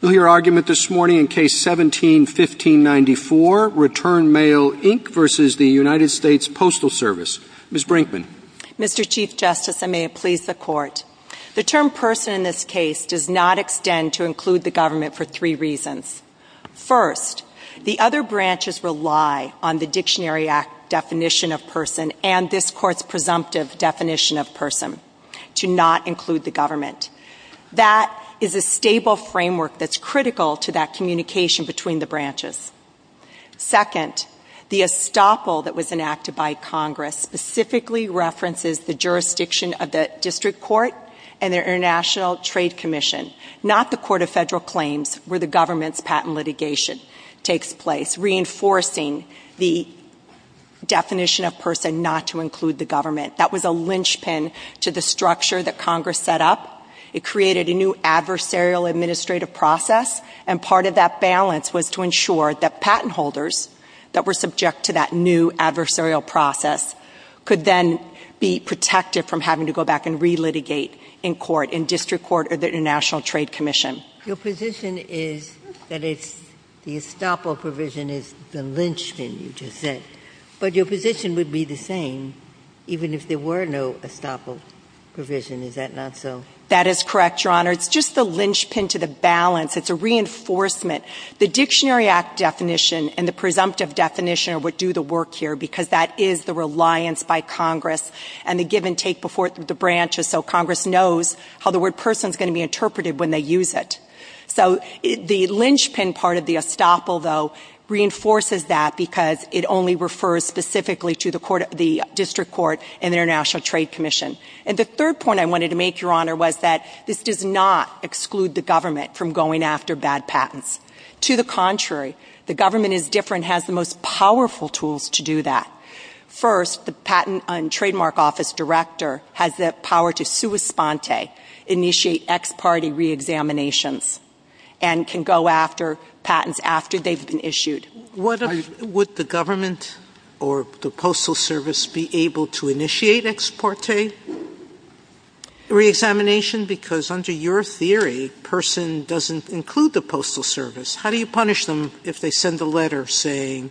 You'll hear argument this morning in Case 17-1594, Return Mail, Inc. v. the United States Postal Service. Ms. Brinkman. Mr. Chief Justice, and may it please the Court, the term person in this case does not extend to include the government for three reasons. First, the other branches rely on the Dictionary Act definition of person and this Court's presumptive definition of person to not include the government. That is a stable framework that's critical to that communication between the branches. Second, the estoppel that was enacted by Congress specifically references the jurisdiction of the District Court and the International Trade Commission, not the Court of Federal Claims where the government's patent litigation takes place, reinforcing the definition of person not to include the government. That was a linchpin to the structure that Congress set up. It created a new adversarial administrative process, and part of that balance was to ensure that patent holders that were subject to that new adversarial process could then be protected from having to go back and relitigate in court, in District Court or the International Trade Commission. Your position is that it's the estoppel provision is the linchpin, you just said. But your position would be the same even if there were no estoppel provision. Is that not so? That is correct, Your Honor. It's just the linchpin to the balance. It's a reinforcement. The Dictionary Act definition and the presumptive definition would do the work here because that is the reliance by Congress and the give and take before the branches so Congress knows how the word person is going to be interpreted when they use it. So the linchpin part of the estoppel, though, reinforces that because it only refers specifically to the District Court and the International Trade Commission. And the third point I wanted to make, Your Honor, was that this does not exclude the government from going after bad patents. To the contrary, the government is different, has the most powerful tools to do that. First, the Patent and Trademark Office Director has the power to sua sponte, initiate ex parte reexaminations, and can go after patents after they've been issued. Would the government or the Postal Service be able to initiate ex parte reexamination? Because under your theory, person doesn't include the Postal Service. How do you punish them if they send a letter saying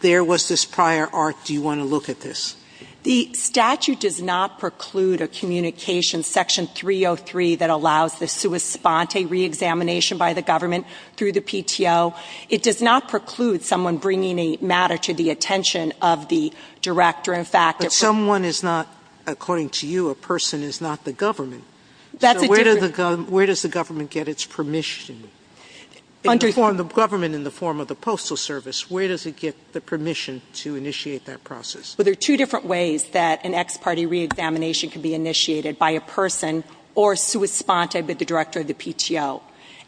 there was this prior art, do you want to look at this? The statute does not preclude a communication, Section 303, that allows the sua sponte reexamination by the government through the PTO. It does not preclude someone bringing a matter to the attention of the director. But someone is not, according to you, a person is not the government. So where does the government get its permission? The government in the form of the Postal Service, where does it get the permission to initiate that process? Well, there are two different ways that an ex parte reexamination can be initiated by a person or sua sponte by the director of the PTO.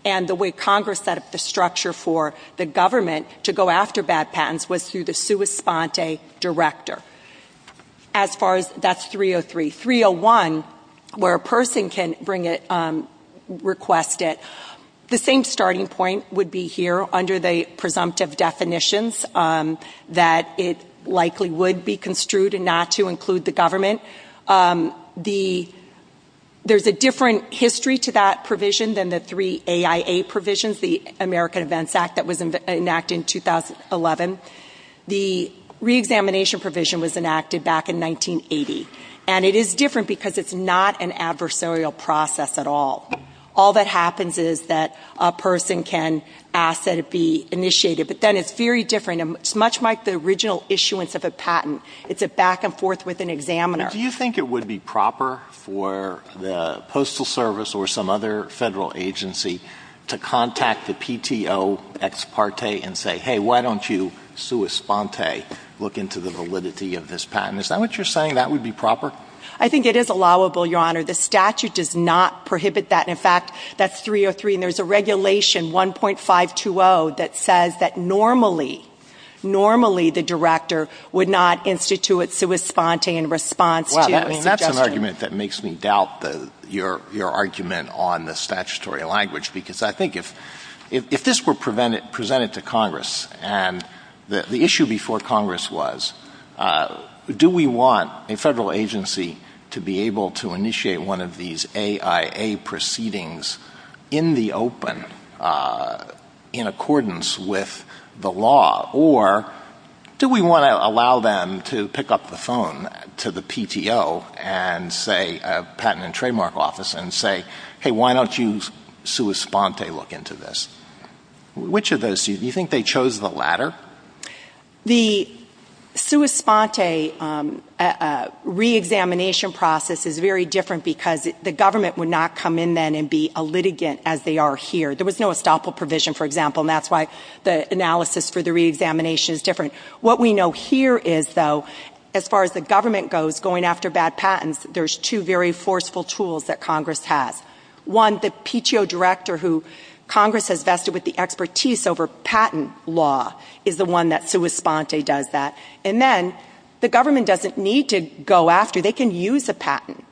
And the way Congress set up the structure for the government to go after bad patents was through the sua sponte director. That's 303. 301, where a person can request it. The same starting point would be here under the presumptive definitions that it likely would be construed not to include the government. There's a different history to that provision than the three AIA provisions, the American Events Act that was enacted in 2011. The reexamination provision was enacted back in 1980. And it is different because it's not an adversarial process at all. All that happens is that a person can ask that it be initiated. But then it's very different. It's much like the original issuance of a patent. It's a back and forth with an examiner. But do you think it would be proper for the Postal Service or some other federal agency to contact the PTO ex parte and say, hey, why don't you sua sponte look into the validity of this patent? Is that what you're saying, that would be proper? I think it is allowable, Your Honor. The statute does not prohibit that. In fact, that's 303. And there's a regulation, 1.520, that says that normally, normally the director would not institute sua sponte in response to a suggestion. Well, that's an argument that makes me doubt your argument on the statutory language. Because I think if this were presented to Congress and the issue before Congress was, do we want a federal agency to be able to initiate one of these AIA proceedings in the open in accordance with the law? Or do we want to allow them to pick up the phone to the PTO and say, patent and trademark office, and say, hey, why don't you sua sponte look into this? Which of those do you think they chose the latter? The sua sponte reexamination process is very different because the government would not come in then and be a litigant as they are here. There was no estoppel provision, for example. And that's why the analysis for the reexamination is different. What we know here is, though, as far as the government goes, going after bad patents, there's two very forceful tools that Congress has. One, the PTO director who Congress has vested with the expertise over patent law is the one that sua sponte does that. And then the government doesn't need to go after. They can use a patent.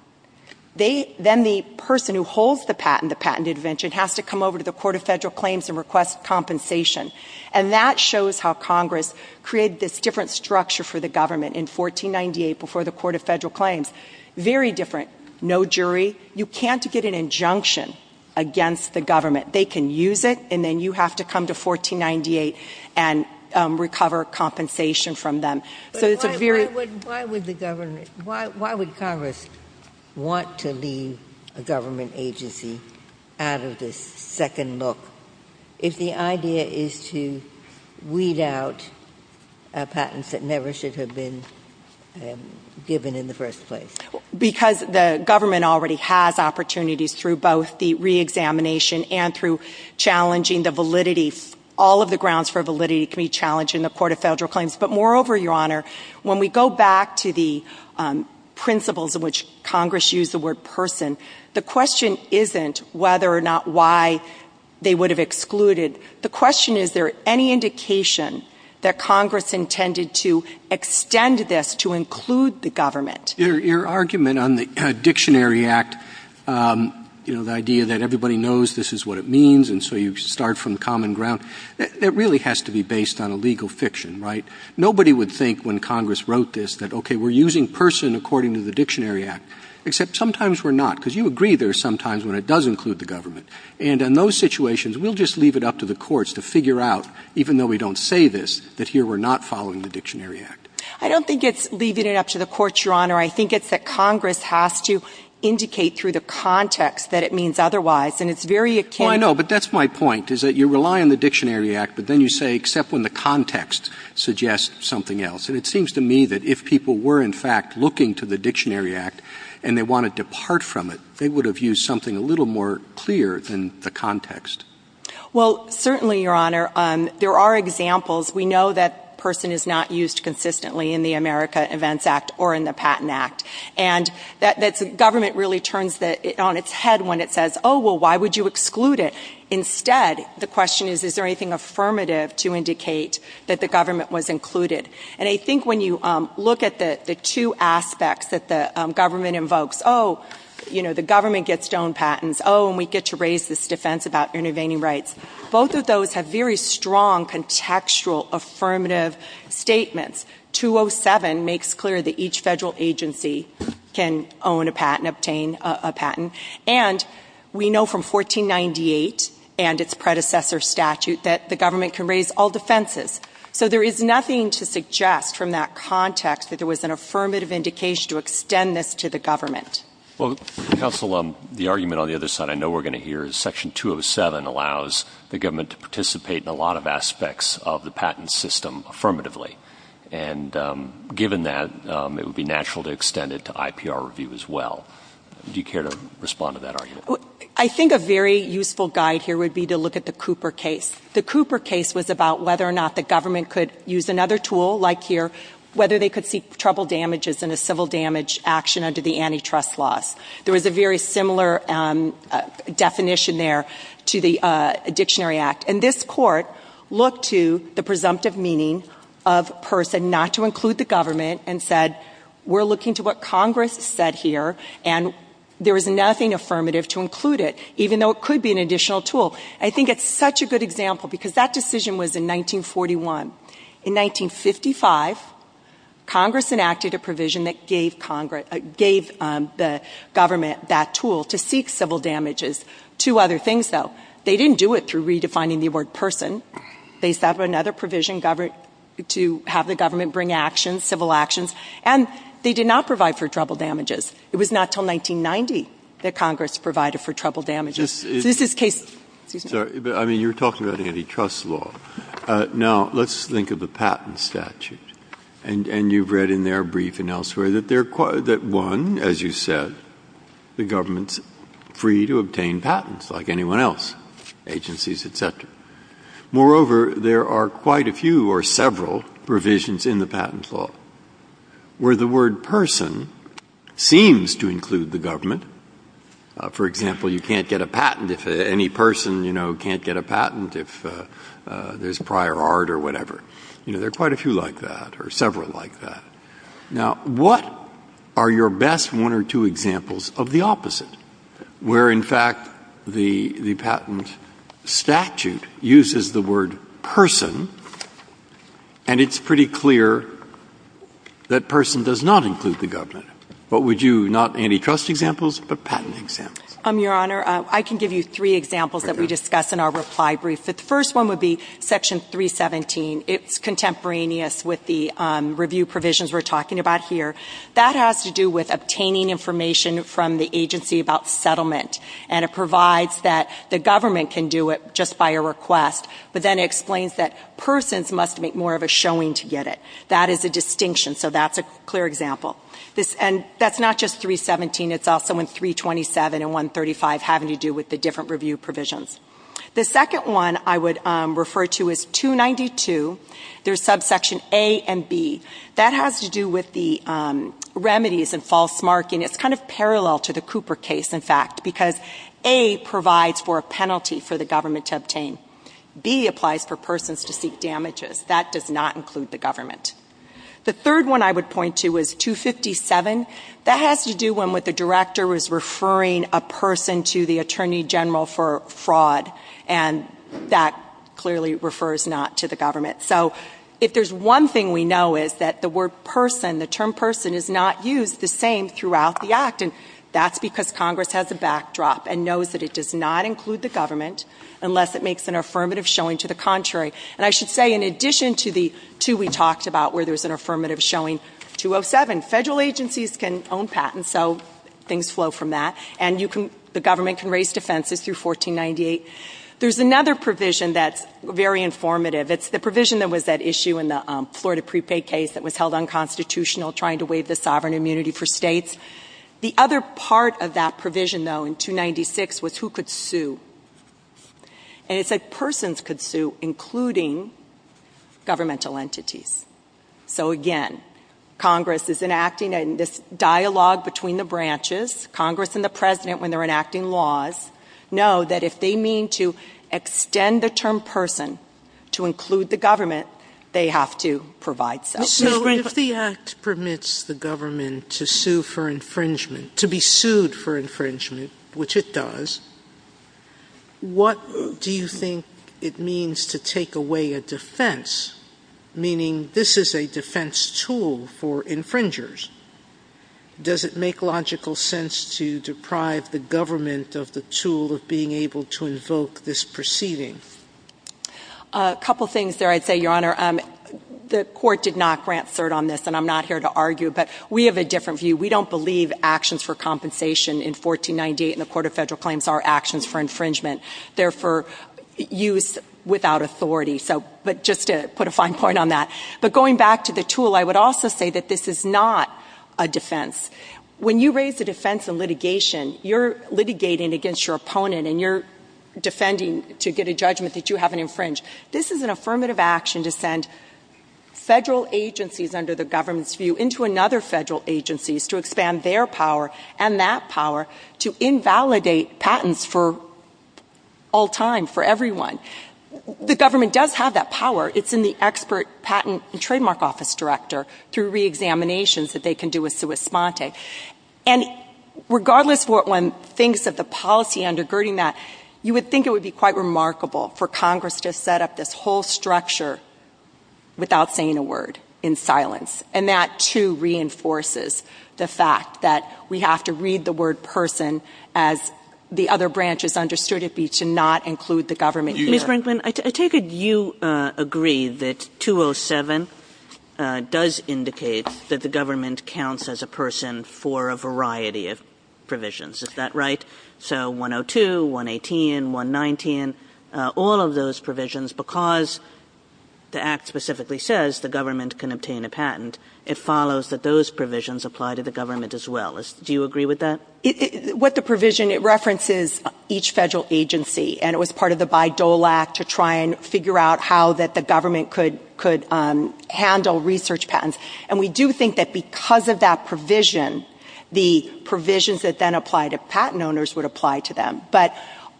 Then the person who holds the patent, the patent intervention, has to come over to the Court of Federal Claims and request compensation. And that shows how Congress created this different structure for the government in 1498 before the Court of Federal Claims. Very different. No jury. You can't get an injunction against the government. They can use it, and then you have to come to 1498 and recover compensation from them. Why would Congress want to leave a government agency out of this second look if the idea is to weed out patents that never should have been given in the first place? Because the government already has opportunities through both the reexamination and through challenging the validity. All of the grounds for validity can be challenged in the Court of Federal Claims. But moreover, Your Honor, when we go back to the principles in which Congress used the word person, the question isn't whether or not why they would have excluded. The question is, is there any indication that Congress intended to extend this to include the government? Your argument on the Dictionary Act, you know, the idea that everybody knows this is what it means, and so you start from common ground, that really has to be based on a legal fiction, right? Nobody would think when Congress wrote this that, okay, we're using person according to the Dictionary Act, except sometimes we're not, because you agree there are some times when it does include the government. And in those situations, we'll just leave it up to the courts to figure out, even though we don't say this, that here we're not following the Dictionary Act. I don't think it's leaving it up to the courts, Your Honor. I think it's that Congress has to indicate through the context that it means otherwise, and it's very akin to — And it seems to me that if people were, in fact, looking to the Dictionary Act and they want to depart from it, they would have used something a little more clear than the context. Well, certainly, Your Honor, there are examples. We know that person is not used consistently in the America Events Act or in the Patent Act. And the government really turns on its head when it says, oh, well, why would you exclude it? Instead, the question is, is there anything affirmative to indicate that the government was included? And I think when you look at the two aspects that the government invokes, oh, you know, the government gets to own patents. Oh, and we get to raise this defense about intervening rights. Both of those have very strong contextual affirmative statements. 207 makes clear that each federal agency can own a patent, obtain a patent. And we know from 1498 and its predecessor statute that the government can raise all defenses. So there is nothing to suggest from that context that there was an affirmative indication to extend this to the government. Well, counsel, the argument on the other side I know we're going to hear is Section 207 allows the government to participate in a lot of aspects of the patent system affirmatively. And given that, it would be natural to extend it to IPR review as well. Do you care to respond to that argument? I think a very useful guide here would be to look at the Cooper case. The Cooper case was about whether or not the government could use another tool like here, whether they could seek trouble damages in a civil damage action under the antitrust laws. There was a very similar definition there to the Dictionary Act. And this court looked to the presumptive meaning of person not to include the government and said, we're looking to what Congress said here. And there was nothing affirmative to include it, even though it could be an additional tool. I think it's such a good example because that decision was in 1941. In 1955, Congress enacted a provision that gave the government that tool to seek civil damages. Two other things, though. They didn't do it through redefining the word person. They set up another provision to have the government bring actions, civil actions. And they did not provide for trouble damages. It was not until 1990 that Congress provided for trouble damages. This is case ‑‑ I mean, you're talking about antitrust law. Now, let's think of the patent statute. And you've read in there, brief and elsewhere, that they're quite ‑‑ that, one, as you said, the government's free to obtain patents like anyone else, agencies, et cetera. Moreover, there are quite a few or several provisions in the patent law where the word person seems to include the government. For example, you can't get a patent if any person, you know, can't get a patent if there's prior art or whatever. You know, there are quite a few like that or several like that. Now, what are your best one or two examples of the opposite, where, in fact, the patent statute uses the word person and it's pretty clear that person does not include the government? What would you ‑‑ not antitrust examples, but patent examples? Your Honor, I can give you three examples that we discuss in our reply brief. The first one would be section 317. It's contemporaneous with the review provisions we're talking about here. That has to do with obtaining information from the agency about settlement. And it provides that the government can do it just by a request. But then it explains that persons must make more of a showing to get it. That is a distinction. So that's a clear example. And that's not just 317. It's also in 327 and 135 having to do with the different review provisions. The second one I would refer to is 292. There's subsection A and B. That has to do with the remedies and false marking. It's kind of parallel to the Cooper case, in fact, because A provides for a penalty for the government to obtain. B applies for persons to seek damages. That does not include the government. The third one I would point to is 257. That has to do with when the director was referring a person to the attorney general for fraud. And that clearly refers not to the government. So if there's one thing we know is that the word person, the term person, is not used the same throughout the act. And that's because Congress has a backdrop and knows that it does not include the government unless it makes an affirmative showing to the contrary. And I should say in addition to the two we talked about where there's an affirmative showing 207, federal agencies can own patents. So things flow from that. And the government can raise defenses through 1498. There's another provision that's very informative. It's the provision that was at issue in the Florida prepay case that was held unconstitutional trying to waive the sovereign immunity for states. The other part of that provision, though, in 296 was who could sue. And it said persons could sue, including governmental entities. So, again, Congress is enacting this dialogue between the branches. Congress and the President, when they're enacting laws, know that if they mean to extend the term person to include the government, they have to provide so. If the act permits the government to sue for infringement, to be sued for infringement, which it does, what do you think it means to take away a defense, meaning this is a defense tool for infringers? Does it make logical sense to deprive the government of the tool of being able to invoke this proceeding? A couple things there, I'd say, Your Honor. The court did not grant cert on this, and I'm not here to argue, but we have a different view. We don't believe actions for compensation in 1498 in the Court of Federal Claims are actions for infringement. They're for use without authority. But just to put a fine point on that. But going back to the tool, I would also say that this is not a defense. When you raise a defense in litigation, you're litigating against your opponent and you're defending to get a judgment that you have an infringe. This is an affirmative action to send federal agencies under the government's view into another federal agency to expand their power and that power to invalidate patents for all time, for everyone. The government does have that power. It's in the expert patent and trademark office director through reexaminations that they can do with sua sponte. And regardless what one thinks of the policy undergirding that, you would think it would be quite remarkable for Congress to set up this whole structure without saying a word in silence. And that, too, reinforces the fact that we have to read the word person as the other branches understood it be to not include the government here. Ms. Brinkman, I take it you agree that 207 does indicate that the government counts as a person for a variety of provisions. Is that right? So 102, 118, 119, all of those provisions because the act specifically says the government can obtain a patent. It follows that those provisions apply to the government as well. Do you agree with that? With the provision, it references each federal agency, and it was part of the Bayh-Dole Act to try and figure out how the government could handle research patents. And we do think that because of that provision, the provisions that then apply to patent owners would apply to them. But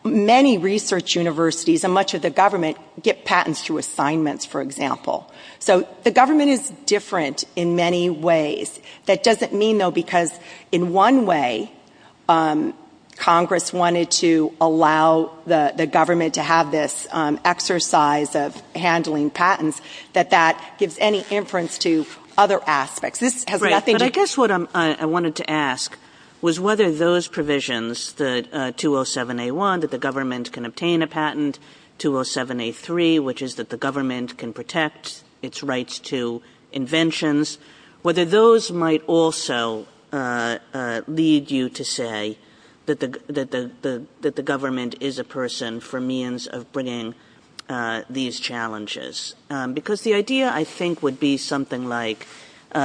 many research universities and much of the government get patents through assignments, for example. So the government is different in many ways. That doesn't mean, though, because in one way, Congress wanted to allow the government to have this exercise of handling patents, that that gives any inference to other aspects. This has nothing to do – Right, but I guess what I wanted to ask was whether those provisions, the 207A1, that the government can obtain a patent, 207A3, which is that the government can protect its rights to inventions, whether those might also lead you to say that the government is a person for means of bringing these challenges. Because the idea, I think, would be something like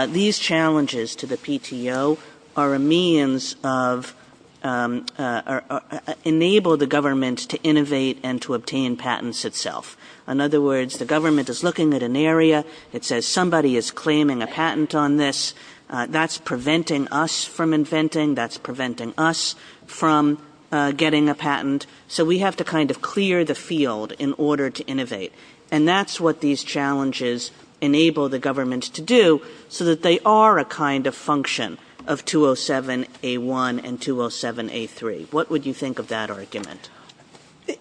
these challenges to the PTO are a means of – enable the government to innovate and to obtain patents itself. In other words, the government is looking at an area. It says somebody is claiming a patent on this. That's preventing us from inventing. That's preventing us from getting a patent. So we have to kind of clear the field in order to innovate. And that's what these challenges enable the government to do so that they are a kind of function of 207A1 and 207A3. What would you think of that argument?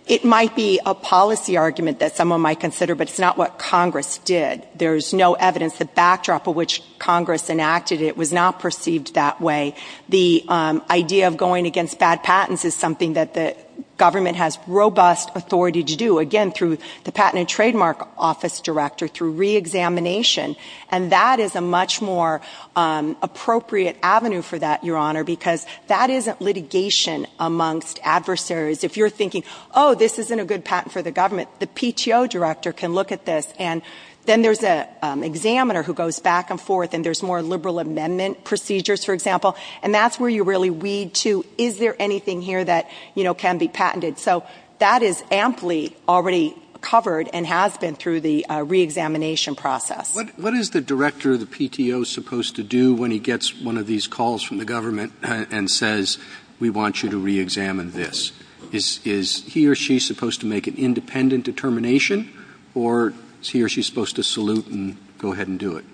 It might be a policy argument that someone might consider, but it's not what Congress did. There's no evidence. The backdrop of which Congress enacted it was not perceived that way. The idea of going against bad patents is something that the government has robust authority to do, again, through the Patent and Trademark Office Director, through reexamination. And that is a much more appropriate avenue for that, Your Honor, because that isn't litigation amongst adversaries. If you're thinking, oh, this isn't a good patent for the government, the PTO Director can look at this. And then there's an examiner who goes back and forth, and there's more liberal amendment procedures, for example. And that's where you really weed to, is there anything here that, you know, can be patented? So that is amply already covered and has been through the reexamination process. What is the Director of the PTO supposed to do when he gets one of these calls from the government and says, we want you to reexamine this? Is he or she supposed to make an independent determination, or is he or she supposed to salute and go ahead and do it?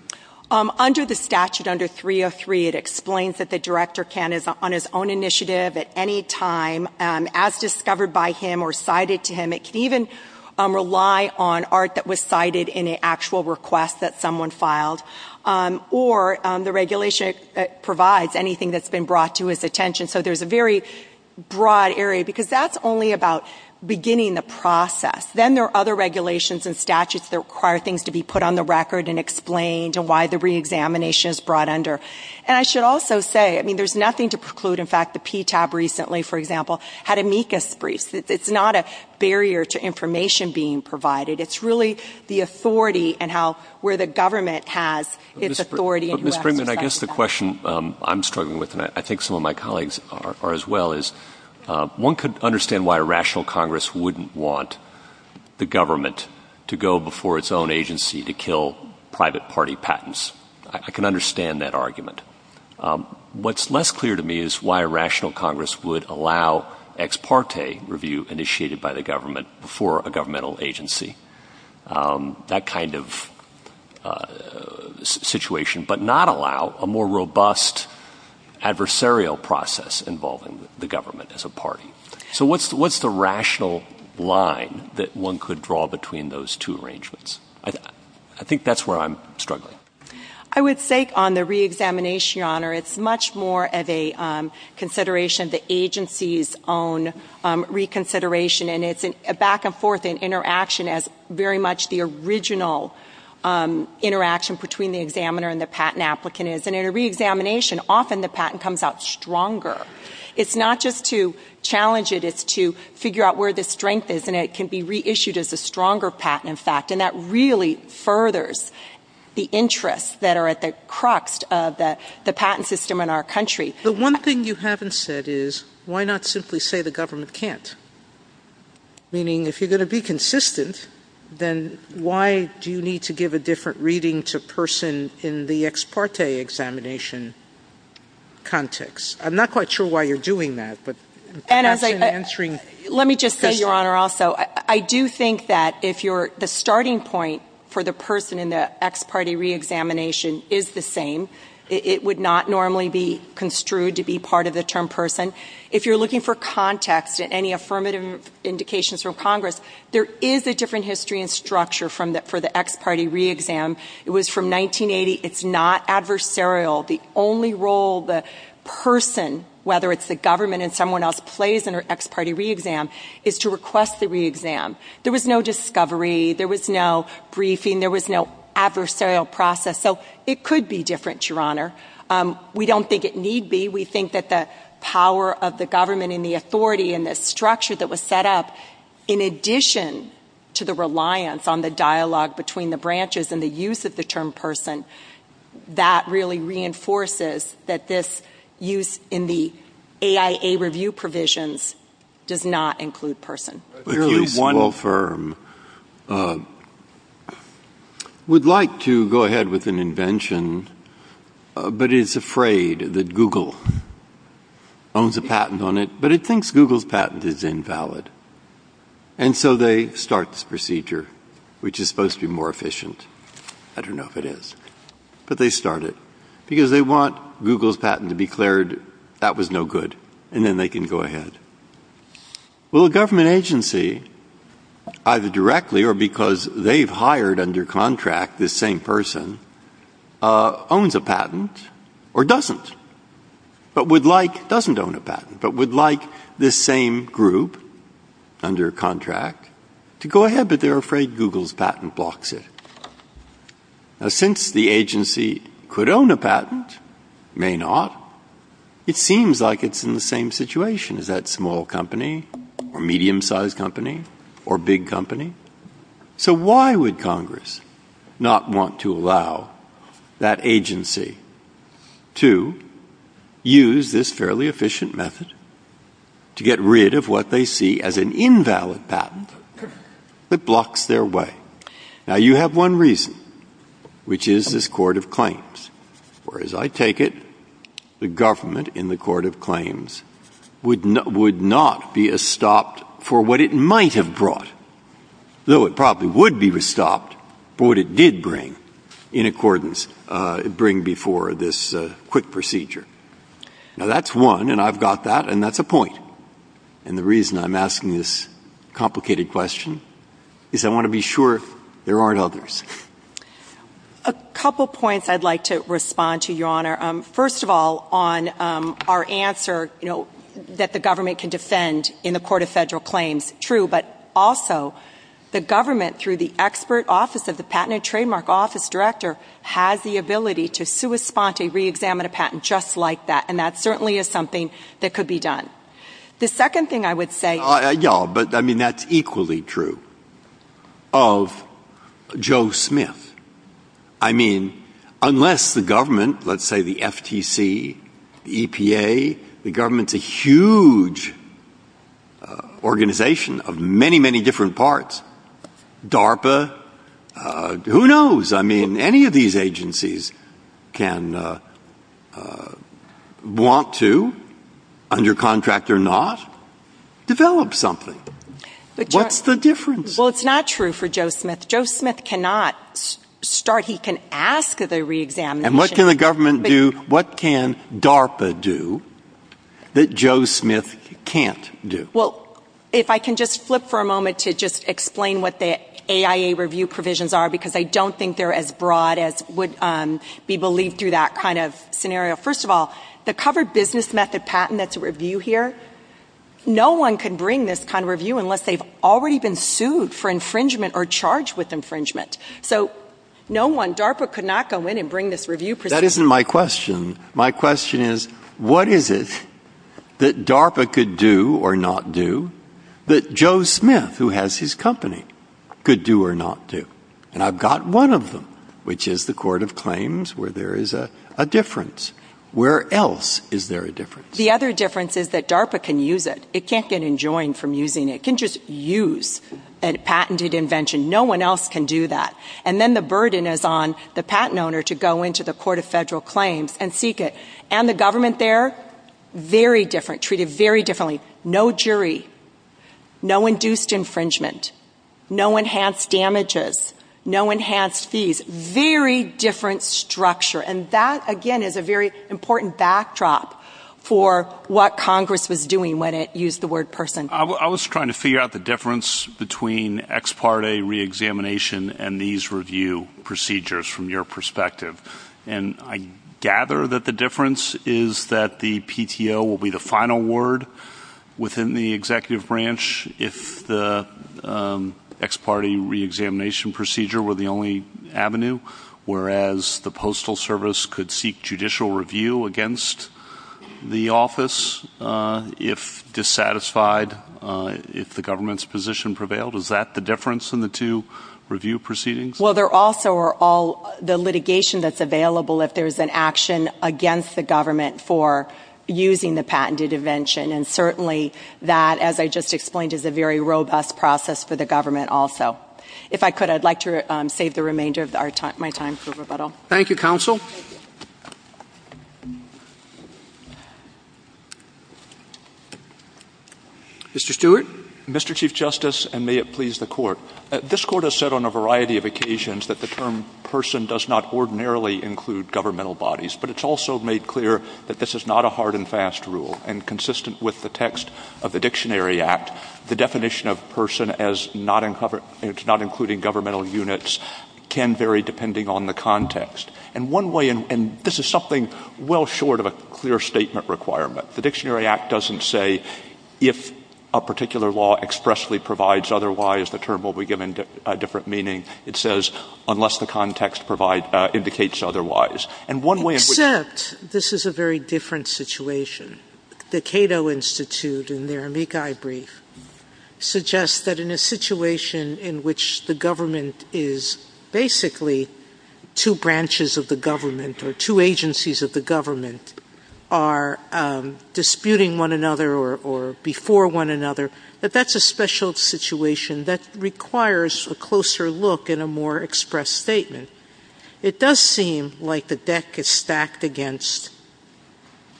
Under the statute, under 303, it explains that the Director can, on his own initiative, at any time, as discovered by him or cited to him. It can even rely on art that was cited in an actual request that someone filed. Or the regulation provides anything that's been brought to his attention. So there's a very broad area, because that's only about beginning the process. Then there are other regulations and statutes that require things to be put on the record and explained, and why the reexamination is brought under. And I should also say, I mean, there's nothing to preclude. In fact, the PTAB recently, for example, had amicus briefs. It's not a barrier to information being provided. It's really the authority and how where the government has its authority. Ms. Brinkman, I guess the question I'm struggling with, and I think some of my colleagues are as well, is one could understand why a rational Congress wouldn't want the government to go before its own agency to kill private party patents. I can understand that argument. What's less clear to me is why a rational Congress would allow ex parte review initiated by the government before a governmental agency. That kind of situation. But not allow a more robust adversarial process involving the government as a party. So what's the rational line that one could draw between those two arrangements? I think that's where I'm struggling. I would say on the reexamination, Your Honor, it's much more of a consideration of the agency's own reconsideration. And it's a back and forth in interaction as very much the original interaction between the examiner and the patent applicant is. And in a reexamination, often the patent comes out stronger. It's not just to challenge it. It's to figure out where the strength is, and it can be reissued as a stronger patent, in fact. And that really furthers the interests that are at the crux of the patent system in our country. The one thing you haven't said is why not simply say the government can't? Meaning if you're going to be consistent, then why do you need to give a different reading to a person in the ex parte examination context? I'm not quite sure why you're doing that, but perhaps in answering this question. Let me just say, Your Honor, also, I do think that if the starting point for the person in the ex parte reexamination is the same, it would not normally be construed to be part of the term person. If you're looking for context in any affirmative indications from Congress, there is a different history and structure for the ex parte reexam. It was from 1980. It's not adversarial. The only role the person, whether it's the government and someone else, plays in an ex parte reexam is to request the reexam. There was no discovery. There was no briefing. There was no adversarial process. So it could be different, Your Honor. We don't think it need be. We think that the power of the government and the authority and the structure that was set up, in addition to the reliance on the dialogue between the branches and the use of the term person, that really reinforces that this use in the AIA review provisions does not include person. A fairly small firm would like to go ahead with an invention but is afraid that Google owns a patent on it, but it thinks Google's patent is invalid. And so they start this procedure, which is supposed to be more efficient. I don't know if it is. But they start it because they want Google's patent to be cleared. That was no good. And then they can go ahead. Well, a government agency, either directly or because they've hired under contract this same person, owns a patent or doesn't, but would like this same group under contract to go ahead, but they're afraid Google's patent blocks it. Now, since the agency could own a patent, may not, it seems like it's in the same situation. Is that small company or medium-sized company or big company? So why would Congress not want to allow that agency to use this fairly efficient method to get rid of what they see as an invalid patent that blocks their way? Now, you have one reason, which is this Court of Claims, or as I take it, the government in the Court of Claims would not be estopped for what it might have brought, though it probably would be estopped for what it did bring in accordance, bring before this quick procedure. Now, that's one, and I've got that, and that's a point. And the reason I'm asking this complicated question is I want to be sure there aren't others. A couple points I'd like to respond to, Your Honor. First of all, on our answer, you know, that the government can defend in the Court of Federal Claims, true, but also the government, through the expert office of the Patent and Trademark Office Director, has the ability to sua sponte, reexamine a patent just like that, and that certainly is something that could be done. The second thing I would say — Yeah, but, I mean, that's equally true of Joe Smith. I mean, unless the government, let's say the FTC, the EPA, the government's a huge organization of many, many different parts, DARPA, who knows? I mean, any of these agencies can want to, under contract or not, develop something. What's the difference? Well, it's not true for Joe Smith. Joe Smith cannot start. He can ask the reexamination. And what can the government do? What can DARPA do that Joe Smith can't do? Well, if I can just flip for a moment to just explain what the AIA review provisions are, because I don't think they're as broad as would be believed through that kind of scenario. First of all, the covered business method patent that's a review here, no one can bring this kind of review unless they've already been sued for infringement or charged with infringement. So, no one, DARPA could not go in and bring this review procedure. That isn't my question. My question is, what is it that DARPA could do or not do that Joe Smith, who has his company, could do or not do? And I've got one of them, which is the Court of Claims, where there is a difference. Where else is there a difference? The other difference is that DARPA can use it. It can't get enjoined from using it. It can just use a patented invention. No one else can do that. And then the burden is on the patent owner to go into the Court of Federal Claims and seek it. And the government there, very different, treated very differently. No jury, no induced infringement, no enhanced damages, no enhanced fees. Very different structure. And that, again, is a very important backdrop for what Congress was doing when it used the word person. I was trying to figure out the difference between ex parte reexamination and these review procedures from your perspective. And I gather that the difference is that the PTO will be the final word within the executive branch if the ex parte reexamination procedure were the only avenue, whereas the Postal Service could seek judicial review against the office if dissatisfied, if the government's position prevailed. Is that the difference in the two review proceedings? Well, there also are all the litigation that's available if there's an action against the government for using the patented invention. And certainly that, as I just explained, is a very robust process for the government also. If I could, I'd like to save the remainder of my time for rebuttal. Thank you, Counsel. Mr. Stewart. Mr. Chief Justice, and may it please the Court. This Court has said on a variety of occasions that the term person does not ordinarily include governmental bodies. But it's also made clear that this is not a hard and fast rule. And consistent with the text of the Dictionary Act, the definition of person as not including governmental units can vary depending on the context. And this is something well short of a clear statement requirement. The Dictionary Act doesn't say if a particular law expressly provides otherwise, the term will be given a different meaning. It says unless the context indicates otherwise. Except this is a very different situation. The Cato Institute, in their Amici brief, suggests that in a situation in which the government is basically two branches of the government, or two agencies of the government are disputing one another or before one another, that that's a special situation that requires a closer look and a more expressed statement. It does seem like the deck is stacked against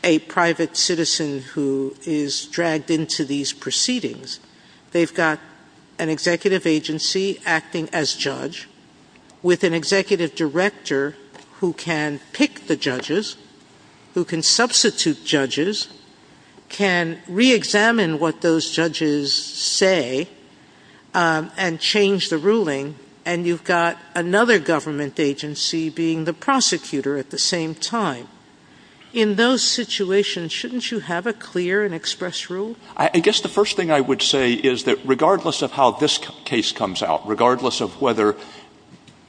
a private citizen who is dragged into these proceedings. They've got an executive agency acting as judge with an executive director who can pick the judges, who can substitute judges, can reexamine what those judges say, and change the ruling. And you've got another government agency being the prosecutor at the same time. In those situations, shouldn't you have a clear and expressed rule? I guess the first thing I would say is that regardless of how this case comes out, regardless of whether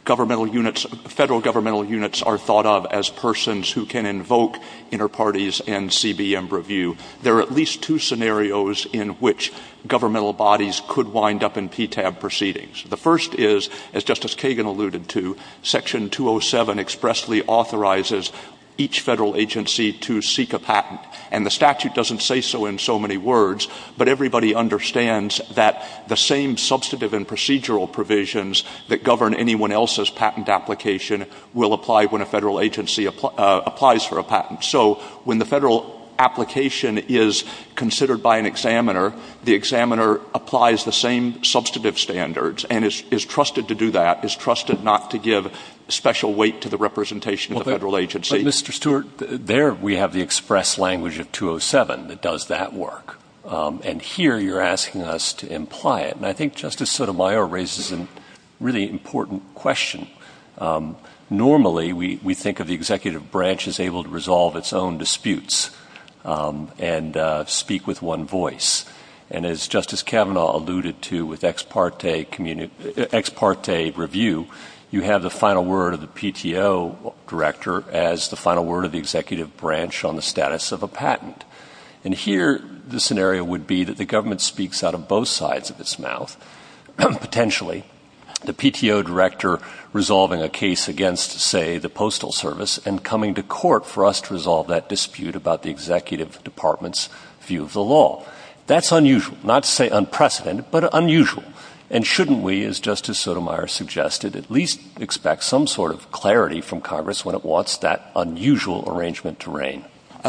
governmental units, Federal governmental units, are thought of as persons who can invoke interparties and CBM review, there are at least two scenarios in which governmental bodies could wind up in PTAB proceedings. The first is, as Justice Kagan alluded to, Section 207 expressly authorizes each Federal agency to seek a patent. And the statute doesn't say so in so many words, but everybody understands that the same substantive and procedural provisions that govern anyone else's patent application will apply when a Federal agency applies for a patent. So when the Federal application is considered by an examiner, the examiner applies the same substantive standards and is trusted to do that, is trusted not to give special weight to the representation of the Federal agency. But, Mr. Stewart, there we have the express language of 207 that does that work. And here you're asking us to imply it. And I think Justice Sotomayor raises a really important question. Normally we think of the executive branch as able to resolve its own disputes and speak with one voice. And as Justice Kavanaugh alluded to with ex parte review, you have the final word of the PTO director as the final word of the executive branch on the status of a patent. And here the scenario would be that the government speaks out of both sides of its mouth. Potentially the PTO director resolving a case against, say, the Postal Service and coming to court for us to resolve that dispute about the executive department's view of the law. That's unusual, not to say unprecedented, but unusual. And shouldn't we, as Justice Sotomayor suggested, at least expect some sort of clarity from Congress when it wants that unusual arrangement to reign?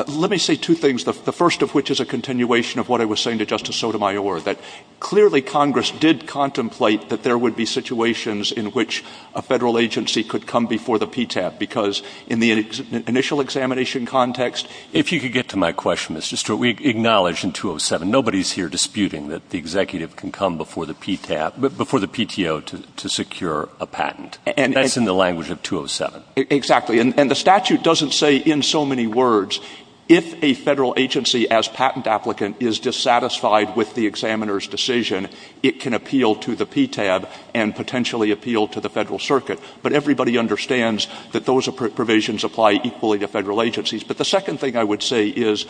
Let me say two things, the first of which is a continuation of what I was saying to Justice Sotomayor, that clearly Congress did contemplate that there would be situations in which a federal agency could come before the PTAP because in the initial examination context. If you could get to my question, Mr. Stewart, we acknowledge in 207 nobody's here disputing that the executive can come before the PTO to secure a patent. That's in the language of 207. Exactly. And the statute doesn't say in so many words, if a federal agency as patent applicant is dissatisfied with the examiner's decision, it can appeal to the PTAP and potentially appeal to the federal circuit. But everybody understands that those provisions apply equally to federal agencies. But the second thing I would say is,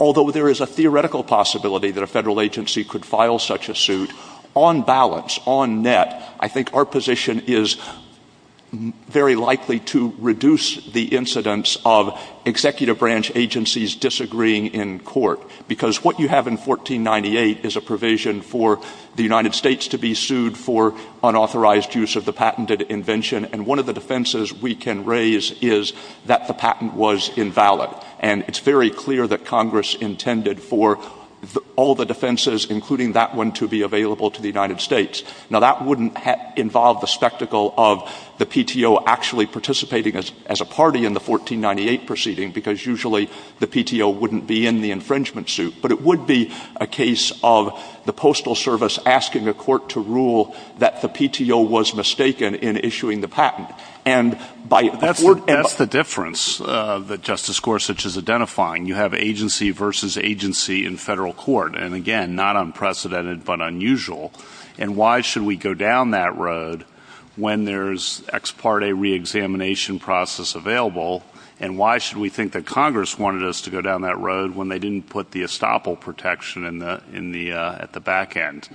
although there is a theoretical possibility that a federal agency could file such a suit, on balance, on net, I think our position is very likely to reduce the incidence of executive branch agencies disagreeing in court. Because what you have in 1498 is a provision for the United States to be sued for unauthorized use of the patented invention. And one of the defenses we can raise is that the patent was invalid. And it's very clear that Congress intended for all the defenses, including that one, to be available to the United States. Now, that wouldn't involve the spectacle of the PTO actually participating as a party in the 1498 proceeding, because usually the PTO wouldn't be in the infringement suit. But it would be a case of the Postal Service asking a court to rule that the PTO was mistaken in issuing the patent. That's the difference that Justice Gorsuch is identifying. You have agency versus agency in federal court. And again, not unprecedented, but unusual. And why should we go down that road when there's ex parte reexamination process available? And why should we think that Congress wanted us to go down that road when they didn't put the estoppel protection at the back end?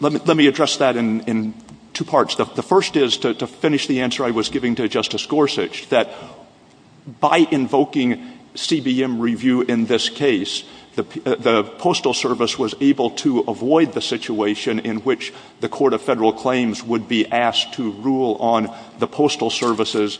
Let me address that in two parts. The first is, to finish the answer I was giving to Justice Gorsuch, that by invoking CBM review in this case, the Postal Service was able to avoid the situation in which the Court of Federal Claims would be asked to rule on the Postal Service's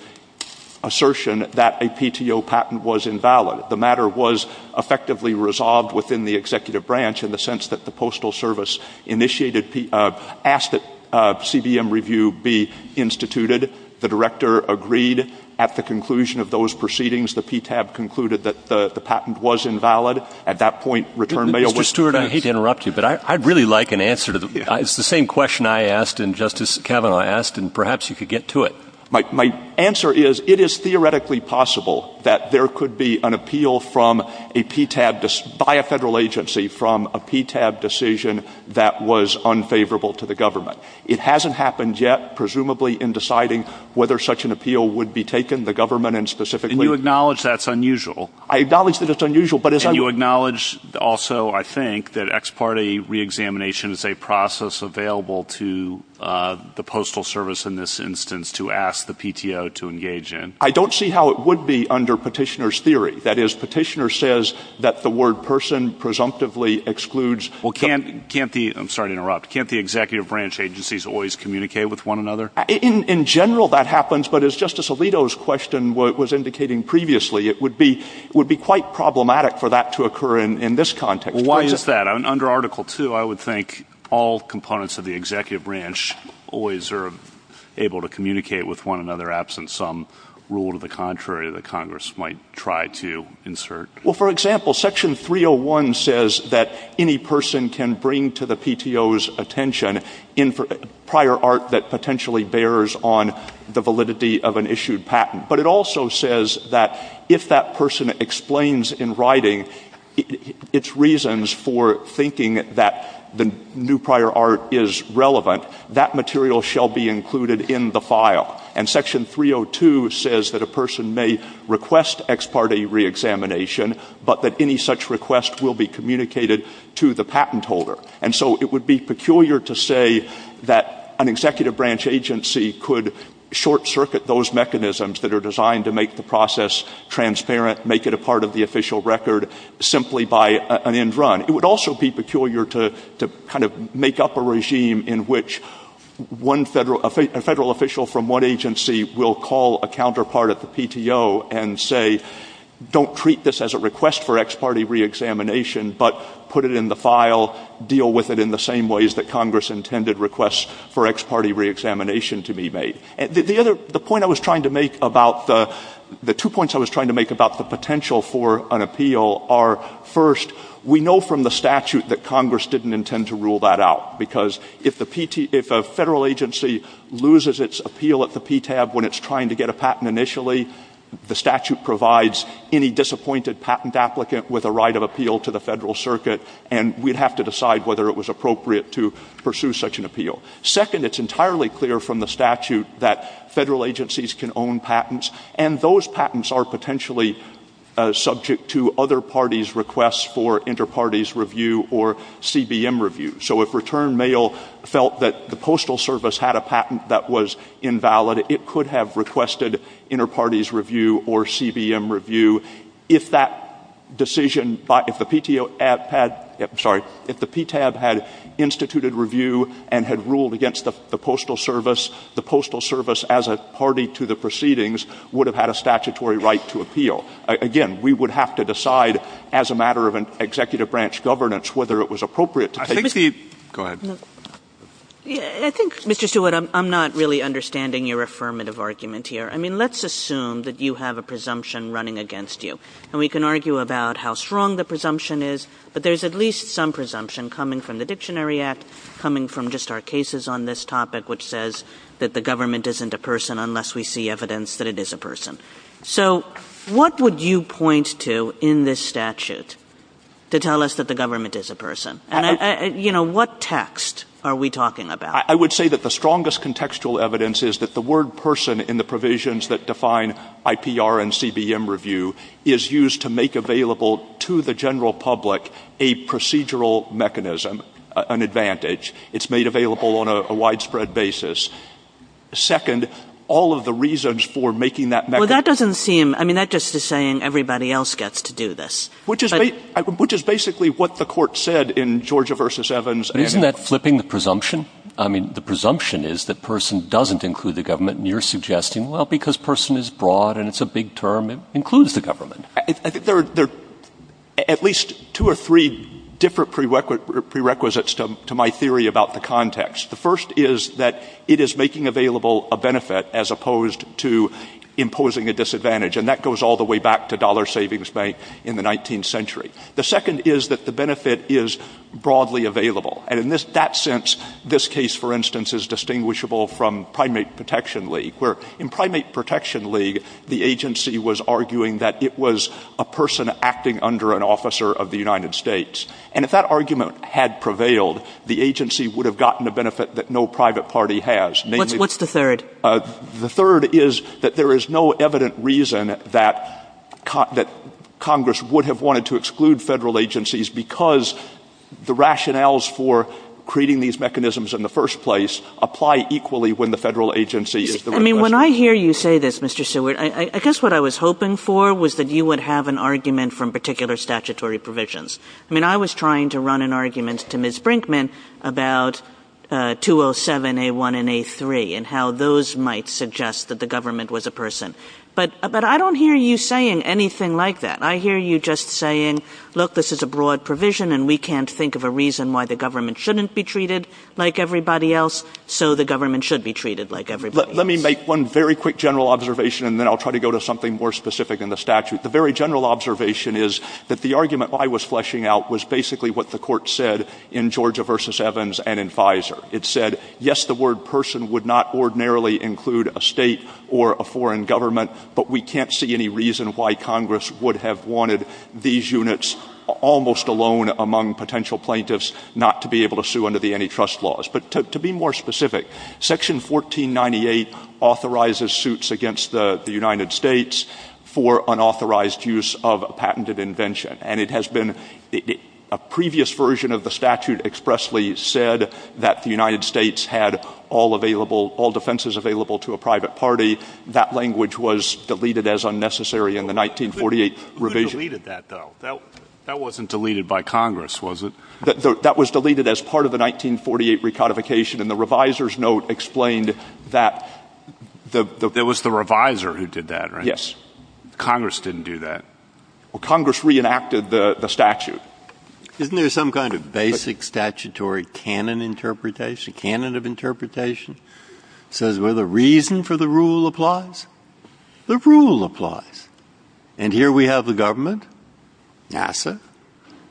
assertion that a PTO patent was invalid. The matter was effectively resolved within the executive branch in the sense that the Postal Service asked that CBM review be instituted. The director agreed. At the conclusion of those proceedings, the PTAB concluded that the patent was invalid. At that point, return mail was — Mr. Stewart, I hate to interrupt you, but I'd really like an answer. It's the same question I asked and Justice Kavanaugh asked, and perhaps you could get to it. My answer is, it is theoretically possible that there could be an appeal from a PTAB — by a federal agency from a PTAB decision that was unfavorable to the government. It hasn't happened yet, presumably, in deciding whether such an appeal would be taken, the government and specifically — And you acknowledge that's unusual? I acknowledge that it's unusual, but as I — And you acknowledge also, I think, that ex parte reexamination is a process available to the Postal Service in this instance to ask the PTO to engage in? I don't see how it would be under Petitioner's theory. That is, Petitioner says that the word person presumptively excludes — Well, can't the — I'm sorry to interrupt. Can't the executive branch agencies always communicate with one another? In general, that happens, but as Justice Alito's question was indicating previously, it would be quite problematic for that to occur in this context. Well, why is that? Under Article II, I would think all components of the executive branch always are able to communicate with one another, absent some rule to the contrary that Congress might try to insert. Well, for example, Section 301 says that any person can bring to the PTO's attention prior art that potentially bears on the validity of an issued patent. But it also says that if that person explains in writing its reasons for thinking that the new prior art is relevant, that material shall be included in the file. And Section 302 says that a person may request ex parte reexamination, but that any such request will be communicated to the patent holder. And so it would be peculiar to say that an executive branch agency could short-circuit those mechanisms that are designed to make the process transparent, make it a part of the official record simply by an end run. It would also be peculiar to kind of make up a regime in which a federal official from one agency will call a counterpart at the PTO and say, don't treat this as a request for ex parte reexamination, but put it in the file, deal with it in the same ways that Congress intended requests for ex parte reexamination to be made. The point I was trying to make about the two points I was trying to make about the potential for an appeal are, first, we know from the statute that Congress didn't intend to rule that out. Because if a federal agency loses its appeal at the PTAB when it's trying to get a patent initially, the statute provides any disappointed patent applicant with a right of appeal to the federal circuit, and we'd have to decide whether it was appropriate to pursue such an appeal. Second, it's entirely clear from the statute that federal agencies can own patents, and those patents are potentially subject to other parties' requests for interparties review or CBM review. So if Return Mail felt that the Postal Service had a patent that was invalid, it could have requested interparties review or CBM review. If that decision — if the PTO had — I'm sorry — if the PTAB had instituted review and had ruled against the Postal Service, the Postal Service as a party to the proceedings would have had a statutory right to appeal. Again, we would have to decide as a matter of an executive branch governance whether it was appropriate to take — Go ahead. I think, Mr. Stewart, I'm not really understanding your affirmative argument here. I mean, let's assume that you have a presumption running against you, and we can argue about how strong the presumption is, but there's at least some presumption coming from the Dictionary Act, coming from just our cases on this topic, which says that the government isn't a person unless we see evidence that it is a person. So what would you point to in this statute to tell us that the government is a person? And, you know, what text are we talking about? I would say that the strongest contextual evidence is that the word person in the provisions that define IPR and CBM review is used to make available to the general public a procedural mechanism, an advantage. It's made available on a widespread basis. Second, all of the reasons for making that — Well, that doesn't seem — I mean, that just is saying everybody else gets to do this. Which is basically what the Court said in Georgia v. Evans. Isn't that flipping the presumption? I mean, the presumption is that person doesn't include the government, and you're suggesting, well, because person is broad and it's a big term, it includes the government. I think there are at least two or three different prerequisites to my theory about the context. The first is that it is making available a benefit as opposed to imposing a disadvantage. And that goes all the way back to dollar savings bank in the 19th century. The second is that the benefit is broadly available. And in that sense, this case, for instance, is distinguishable from Primate Protection League, where in Primate Protection League, the agency was arguing that it was a person acting under an officer of the United States. And if that argument had prevailed, the agency would have gotten a benefit that no private party has. What's the third? The third is that there is no evident reason that Congress would have wanted to exclude federal agencies because the rationales for creating these mechanisms in the first place apply equally when the federal agency is the — I mean, when I hear you say this, Mr. Stewart, I guess what I was hoping for was that you would have an argument from particular statutory provisions. I mean, I was trying to run an argument to Ms. Brinkman about 207A1 and A3 and how those might suggest that the government was a person. But I don't hear you saying anything like that. I hear you just saying, look, this is a broad provision, and we can't think of a reason why the government shouldn't be treated like everybody else, so the government should be treated like everybody else. Let me make one very quick general observation, and then I'll try to go to something more specific in the statute. The very general observation is that the argument I was fleshing out was basically what the Court said in Georgia v. Evans and in FISA. It said, yes, the word person would not ordinarily include a state or a foreign government, but we can't see any reason why Congress would have wanted these units almost alone among potential plaintiffs not to be able to sue under the antitrust laws. But to be more specific, Section 1498 authorizes suits against the United States for unauthorized use of a patented invention. And it has been a previous version of the statute expressly said that the United States had all defenses available to a private party. That language was deleted as unnecessary in the 1948 revision. Who deleted that, though? That wasn't deleted by Congress, was it? That was deleted as part of the 1948 recodification, and the revisor's note explained that. It was the revisor who did that, right? Yes. Congress didn't do that. Well, Congress reenacted the statute. Isn't there some kind of basic statutory canon interpretation, canon of interpretation? It says, well, the reason for the rule applies. The rule applies. And here we have the government, NASA,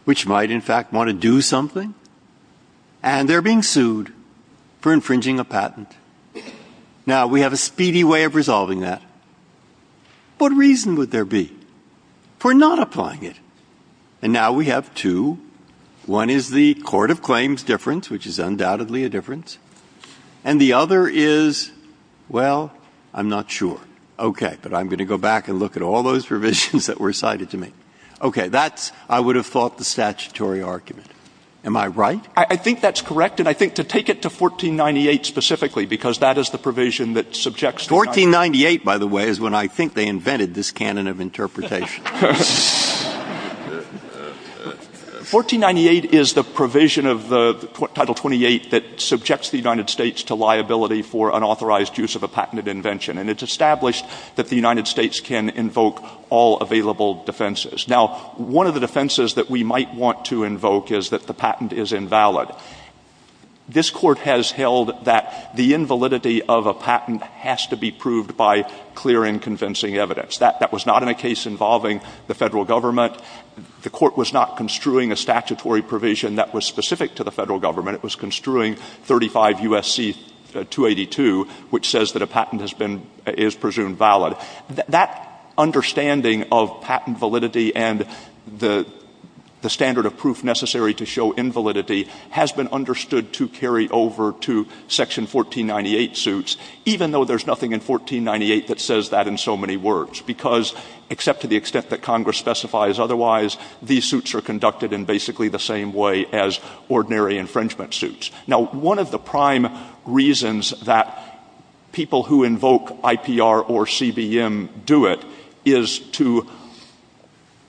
which might in fact want to do something, and they're being sued for infringing a patent. Now, we have a speedy way of resolving that. What reason would there be for not applying it? And now we have two. One is the court of claims difference, which is undoubtedly a difference. And the other is, well, I'm not sure. Okay, but I'm going to go back and look at all those revisions that were cited to me. Okay, that's, I would have thought, the statutory argument. Am I right? I think that's correct, and I think to take it to 1498 specifically, because that is the provision that subjects the United States. 1498, by the way, is when I think they invented this canon of interpretation. 1498 is the provision of the Title 28 that subjects the United States to liability for unauthorized use of a patented invention. And it's established that the United States can invoke all available defenses. Now, one of the defenses that we might want to invoke is that the patent is invalid. This court has held that the invalidity of a patent has to be proved by clear and convincing evidence. That was not in a case involving the federal government. The court was not construing a statutory provision that was specific to the federal government. It was construing 35 U.S.C. 282, which says that a patent has been, is presumed valid. That understanding of patent validity and the standard of proof necessary to show invalidity has been understood to carry over to Section 1498 suits, even though there's nothing in 1498 that says that in so many words, because except to the extent that Congress specifies otherwise, these suits are conducted in basically the same way as ordinary infringement suits. Now, one of the prime reasons that people who invoke IPR or CBM do it is to,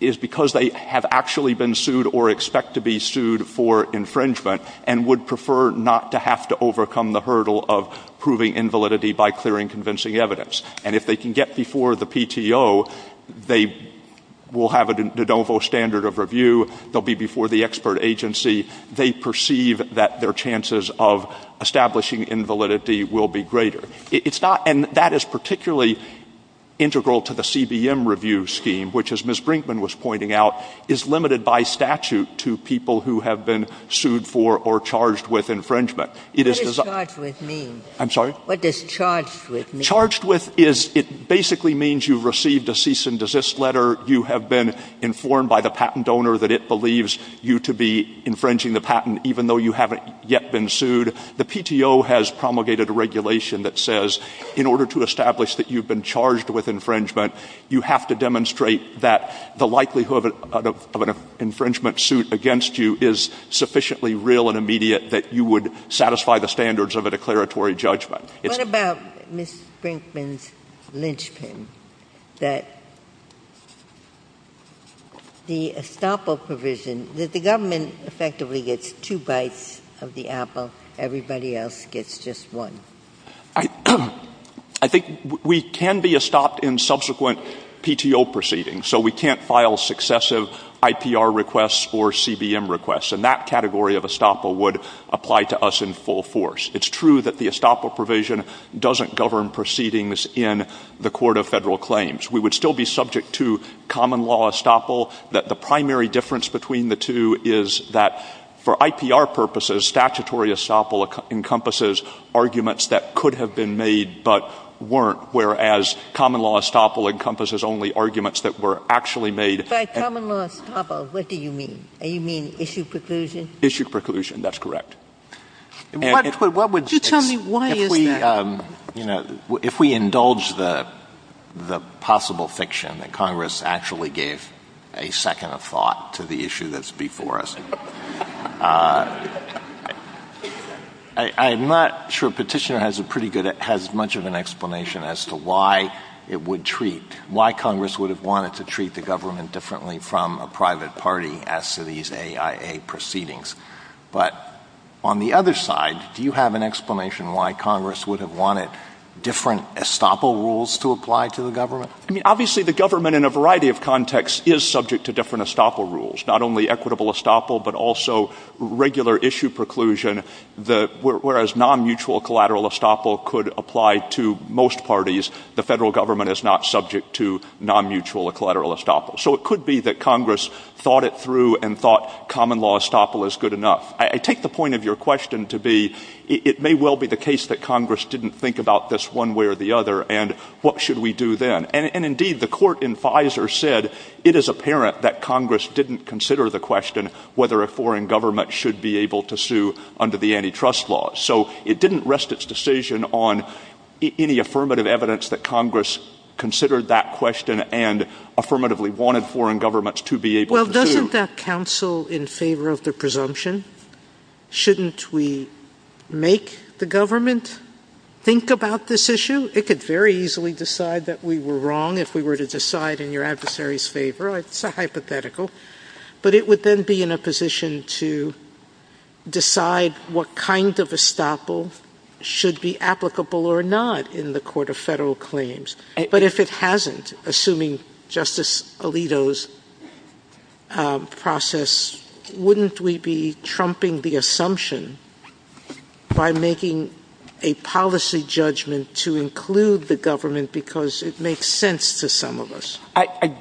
is because they have actually been sued or expect to be sued for infringement and would prefer not to have to overcome the hurdle of proving invalidity by clearing convincing evidence. And if they can get before the PTO, they will have a de novo standard of review. They'll be before the expert agency. They perceive that their chances of establishing invalidity will be greater. It's not, and that is particularly integral to the CBM review scheme, which as Ms. Brinkman was pointing out, is limited by statute to people who have been sued for or charged with infringement. It is designed. What does charged with mean? I'm sorry? What does charged with mean? Charged with is, it basically means you've received a cease and desist letter. You have been informed by the patent donor that it believes you to be infringing the patent, even though you haven't yet been sued. The PTO has promulgated a regulation that says in order to establish that you've been charged with infringement, you have to demonstrate that the likelihood of an infringement suit against you is sufficiently real and immediate that you would satisfy the standards of a declaratory judgment. What about Ms. Brinkman's linchpin, that the estoppel provision, that the government effectively gets two bites of the apple, everybody else gets just one? I think we can be estopped in subsequent PTO proceedings. So we can't file successive IPR requests or CBM requests. And that category of estoppel would apply to us in full force. It's true that the estoppel provision doesn't govern proceedings in the Court of Federal Claims. We would still be subject to common law estoppel, that the primary difference between the two is that for IPR purposes, statutory estoppel encompasses arguments that could have been made but weren't, whereas common law estoppel encompasses only arguments that were actually made. But common law estoppel, what do you mean? You mean issue preclusion? Issue preclusion. That's correct. Could you tell me why is that? If we indulge the possible fiction that Congress actually gave a second of thought to the issue that's before us, I'm not sure Petitioner has much of an explanation as to why it would treat, why Congress would have wanted to treat the government differently from a private party as to these AIA proceedings. But on the other side, do you have an explanation why Congress would have wanted different estoppel rules to apply to the government? I mean, obviously the government in a variety of contexts is subject to different estoppel rules, not only equitable estoppel but also regular issue preclusion. Whereas non-mutual collateral estoppel could apply to most parties, the federal government is not subject to non-mutual collateral estoppel. So it could be that Congress thought it through and thought common law estoppel is good enough. I take the point of your question to be it may well be the case that Congress didn't think about this one way or the other, and what should we do then? And indeed, the court in Pfizer said it is apparent that Congress didn't consider the question whether a foreign government should be able to sue under the antitrust law. So it didn't rest its decision on any affirmative evidence that Congress considered that question and affirmatively wanted foreign governments to be able to sue. Well, doesn't that counsel in favor of the presumption? Shouldn't we make the government think about this issue? It could very easily decide that we were wrong if we were to decide in your adversary's favor. It's a hypothetical. But it would then be in a position to decide what kind of estoppel should be applicable or not in the court of federal claims. But if it hasn't, assuming Justice Alito's process, wouldn't we be trumping the assumption by making a policy judgment to include the government because it makes sense to some of us? I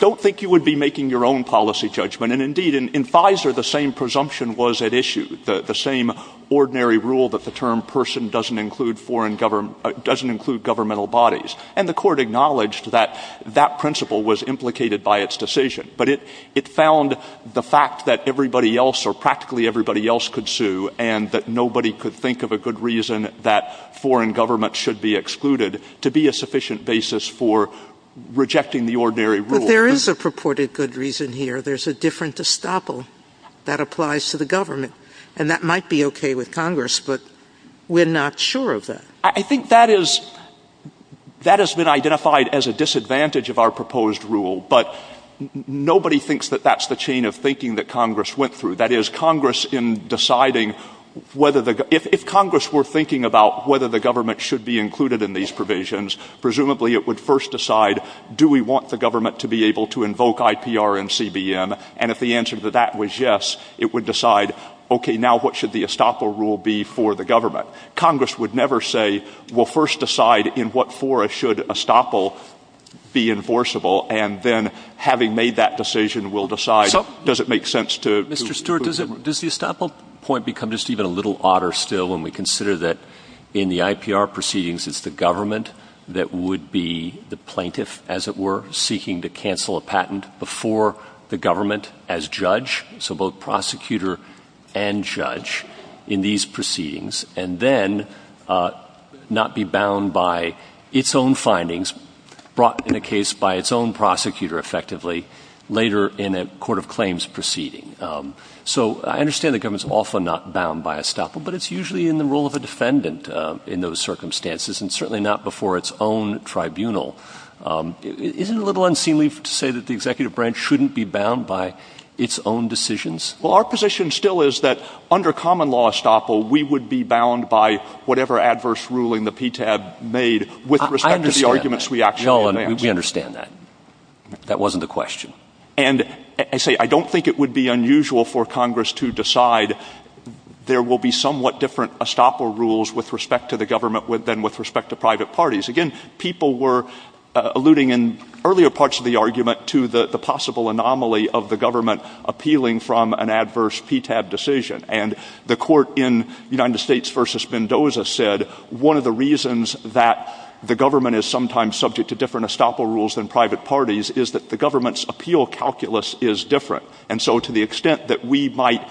don't think you would be making your own policy judgment. And indeed, in Pfizer, the same presumption was at issue, the same ordinary rule that the term person doesn't include governmental bodies. And the court acknowledged that that principle was implicated by its decision. But it found the fact that everybody else or practically everybody else could sue and that nobody could think of a good reason that foreign government should be excluded to be a sufficient basis for rejecting the ordinary rule. But there is a purported good reason here. There's a different estoppel that applies to the government. And that might be okay with Congress, but we're not sure of that. I think that is — that has been identified as a disadvantage of our proposed rule. But nobody thinks that that's the chain of thinking that Congress went through. That is, Congress, in deciding whether the — if Congress were thinking about whether the government should be included in these provisions, presumably it would first decide, do we want the government to be able to invoke IPR and CBM? And if the answer to that was yes, it would decide, okay, now what should the estoppel rule be for the government? Congress would never say, we'll first decide in what forest should estoppel be enforceable, and then having made that decision, we'll decide does it make sense to — So, Mr. Stewart, does the estoppel point become just even a little odder still when we consider that in the IPR proceedings it's the government that would be the plaintiff, as it were, seeking to cancel a patent before the government as judge, so both prosecutor and judge in these proceedings, and then not be bound by its own findings brought in a case by its own prosecutor, effectively, later in a court of claims proceeding? So I understand the government's often not bound by estoppel, but it's usually in the role of a defendant in those circumstances, and certainly not before its own tribunal. Isn't it a little unseemly to say that the executive branch shouldn't be bound by its own decisions? Well, our position still is that under common law estoppel, we would be bound by whatever adverse ruling the PTAB made with respect to the arguments we actually advance. I understand that. We understand that. That wasn't the question. And I say I don't think it would be unusual for Congress to decide there will be somewhat different estoppel rules with respect to the government than with respect to private parties. Again, people were alluding in earlier parts of the argument to the possible anomaly of the government appealing from an adverse PTAB decision. And the court in United States v. Mendoza said one of the reasons that the government is sometimes subject to different estoppel rules than private parties is that the government's appeal calculus is different. And so to the extent that we might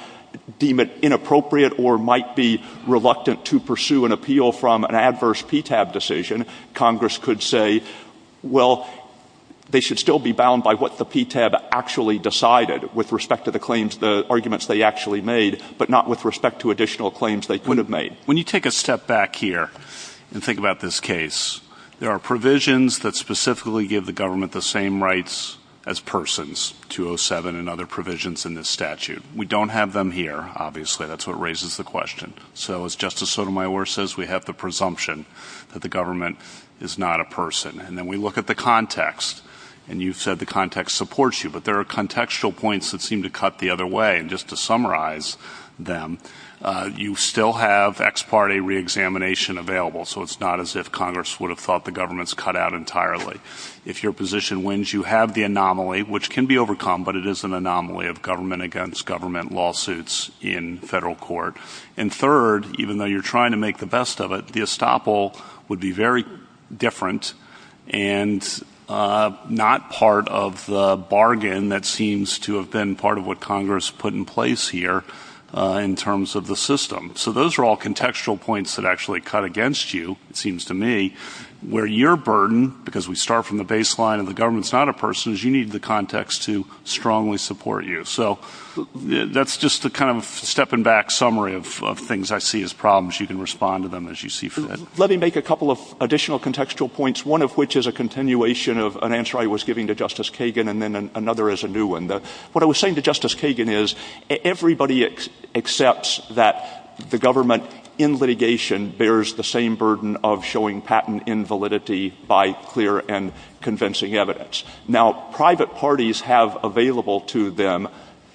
deem it inappropriate or might be reluctant to pursue an appeal from an adverse PTAB decision, Congress could say, well, they should still be bound by what the PTAB actually decided with respect to the claims, the arguments they actually made, but not with respect to additional claims they could have made. When you take a step back here and think about this case, there are provisions that specifically give the government the same rights as persons, 207 and other provisions in this statute. We don't have them here, obviously. That's what raises the question. So as Justice Sotomayor says, we have the presumption that the government is not a person. And then we look at the context, and you've said the context supports you, but there are contextual points that seem to cut the other way. And just to summarize them, you still have ex parte reexamination available, so it's not as if Congress would have thought the government's cut out entirely. If your position wins, you have the anomaly, which can be overcome, but it is an anomaly of government against government lawsuits in federal court. And third, even though you're trying to make the best of it, the estoppel would be very different and not part of the bargain that seems to have been part of what Congress put in place here in terms of the system. So those are all contextual points that actually cut against you, it seems to me, where your burden, because we start from the baseline of the government's not a person, is you need the context to strongly support you. So that's just a kind of stepping back summary of things I see as problems. You can respond to them as you see fit. Let me make a couple of additional contextual points, one of which is a continuation of an answer I was giving to Justice Kagan and then another is a new one. What I was saying to Justice Kagan is everybody accepts that the government in litigation bears the same burden of showing patent invalidity by clear and convincing evidence. Now, private parties have available to them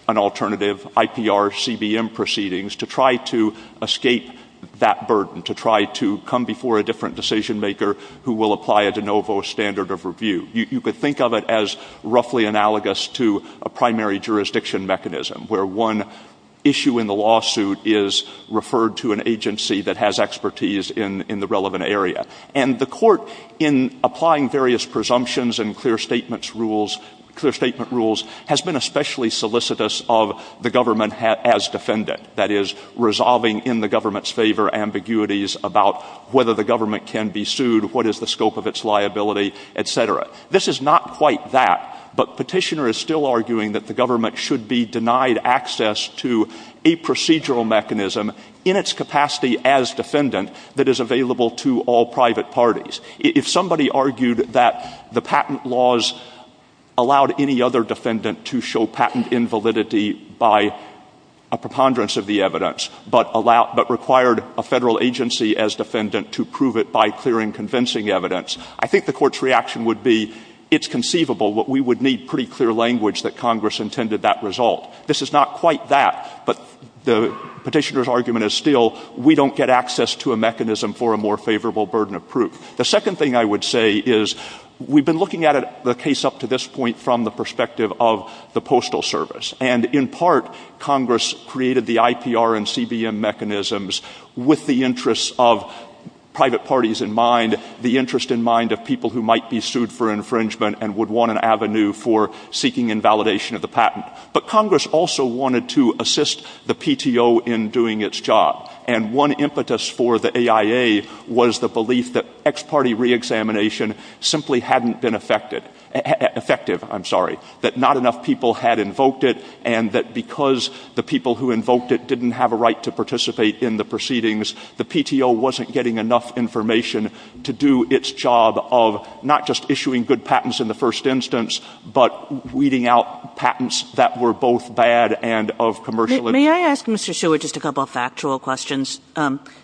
an alternative IPR-CBM proceedings to try to escape that burden, to try to come before a different decision-maker who will apply a de novo standard of review. You could think of it as roughly analogous to a primary jurisdiction mechanism where one issue in the lawsuit is referred to an agency that has expertise in the relevant area. And the court, in applying various presumptions and clear statement rules, has been especially solicitous of the government as defendant, that is, resolving in the government's favor ambiguities about whether the government can be sued, what is the scope of its liability, et cetera. This is not quite that, but Petitioner is still arguing that the government should be denied access to a procedural mechanism in its capacity as defendant that is available to all private parties. If somebody argued that the patent laws allowed any other defendant to show patent invalidity by a preponderance of the evidence but required a Federal agency as defendant to prove it by clear and convincing evidence, I think the Court's reaction would be it's conceivable, but we would need pretty clear language that Congress intended that result. This is not quite that, but the Petitioner's argument is still we don't get access to a mechanism for a more favorable burden of proof. The second thing I would say is we've been looking at the case up to this point from the perspective of the Postal Service. And in part, Congress created the IPR and CBM mechanisms with the interests of private parties in mind, the interest in mind of people who might be sued for infringement and would want an avenue for seeking invalidation of the patent. But Congress also wanted to assist the PTO in doing its job. And one impetus for the AIA was the belief that ex parte reexamination simply hadn't been effective, that not enough people had invoked it and that because the people who invoked it didn't have a right to participate in the proceedings, the PTO wasn't getting enough information to do its job of not just issuing good patents in the first instance but weeding out patents that were both bad and of commercial interest. Kagan. May I ask Mr. Stewart just a couple of factual questions?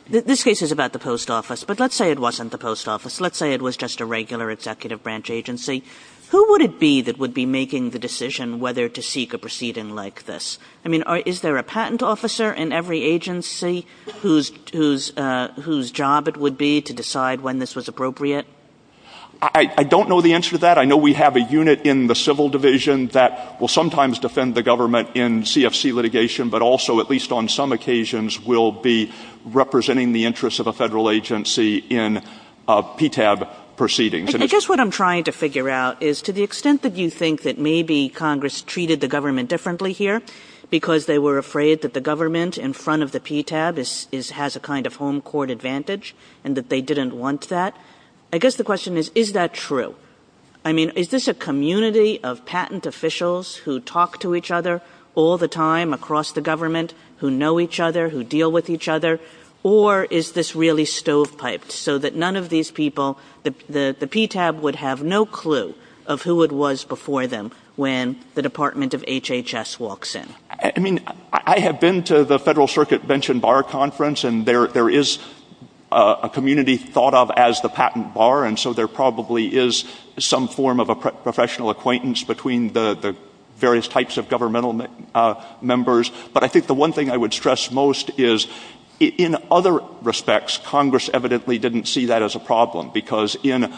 This case is about the post office, but let's say it wasn't the post office. Let's say it was just a regular executive branch agency. Who would it be that would be making the decision whether to seek a proceeding like this? I mean, is there a patent officer in every agency whose job it would be to decide when this was appropriate? I don't know the answer to that. I know we have a unit in the civil division that will sometimes defend the government in CFC litigation but also at least on some occasions will be representing the interests of a federal agency in PTAB proceedings. I guess what I'm trying to figure out is to the extent that you think that maybe Congress treated the government differently here because they were afraid that the government in front of the PTAB has a kind of home court advantage and that they didn't want that, I guess the question is, is that true? I mean, is this a community of patent officials who talk to each other all the time across the government, who know each other, who deal with each other, or is this really stovepiped so that none of these people, the PTAB would have no clue of who it was before them when the Department of HHS walks in? I mean, I have been to the federal circuit bench and bar conference and there is a community thought of as the patent bar and so there probably is some form of a professional acquaintance between the various types of governmental members. But I think the one thing I would stress most is in other respects, Congress evidently didn't see that as a problem because in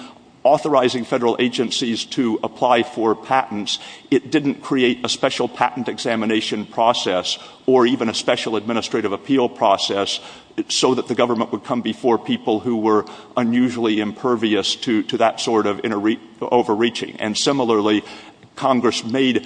authorizing federal agencies to apply for patents, it didn't create a special patent examination process or even a special administrative appeal process so that the government would come before people who were unusually impervious to that sort of overreaching. And similarly, Congress made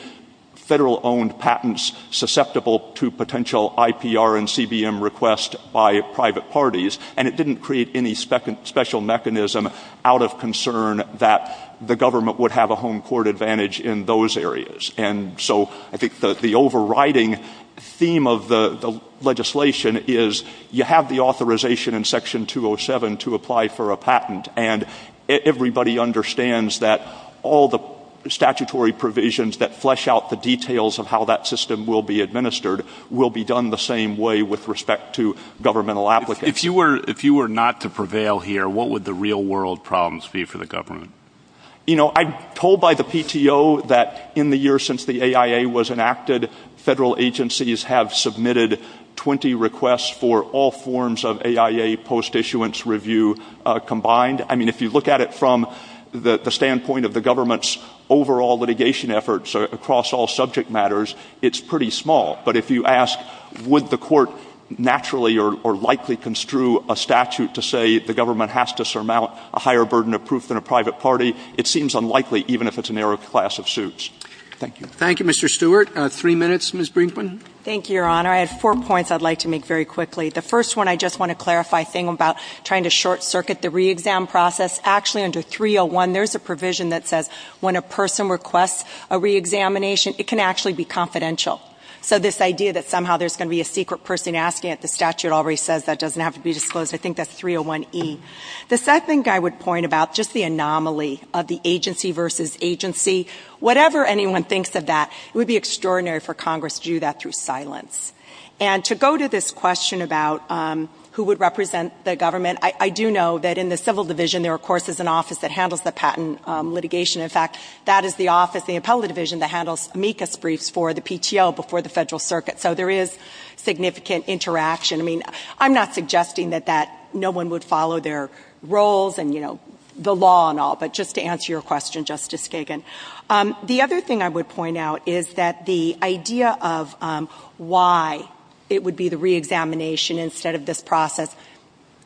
federal-owned patents susceptible to potential IPR and CBM requests by private parties and it didn't create any special mechanism out of concern that the government would have a home court advantage in those areas. And so I think the overriding theme of the legislation is you have the authorization in Section 207 to apply for a patent and everybody understands that all the statutory provisions that flesh out the details of how that system will be administered will be done the same way with respect to governmental applicants. If you were not to prevail here, what would the real world problems be for the government? You know, I'm told by the PTO that in the year since the AIA was enacted, federal agencies have submitted 20 requests for all forms of AIA post-issuance review combined. I mean, if you look at it from the standpoint of the government's overall litigation efforts across all subject matters, it's pretty small. But if you ask would the court naturally or likely construe a statute to say the government has to surmount a higher burden of proof than a private party, it seems unlikely even if it's a narrow class of suits. Thank you. Thank you, Mr. Stewart. Three minutes, Ms. Brinkman. Thank you, Your Honor. I have four points I'd like to make very quickly. The first one, I just want to clarify a thing about trying to short-circuit the re-exam process. Actually, under 301, there's a provision that says when a person requests a re-examination, it can actually be confidential. So this idea that somehow there's going to be a secret person asking it, the statute already says that doesn't have to be disclosed. I think that's 301E. The second thing I would point about, just the anomaly of the agency versus agency, whatever anyone thinks of that, it would be extraordinary for Congress to do that through silence. And to go to this question about who would represent the government, I do know that in the Civil Division there, of course, is an office that handles the patent litigation. In fact, that is the office, the Appellate Division, that handles amicus briefs for the PTO before the Federal Circuit. So there is significant interaction. I mean, I'm not suggesting that no one would follow their roles and, you know, the law and all, but just to answer your question, Justice Kagan. The other thing I would point out is that the idea of why it would be the re-examination instead of this process,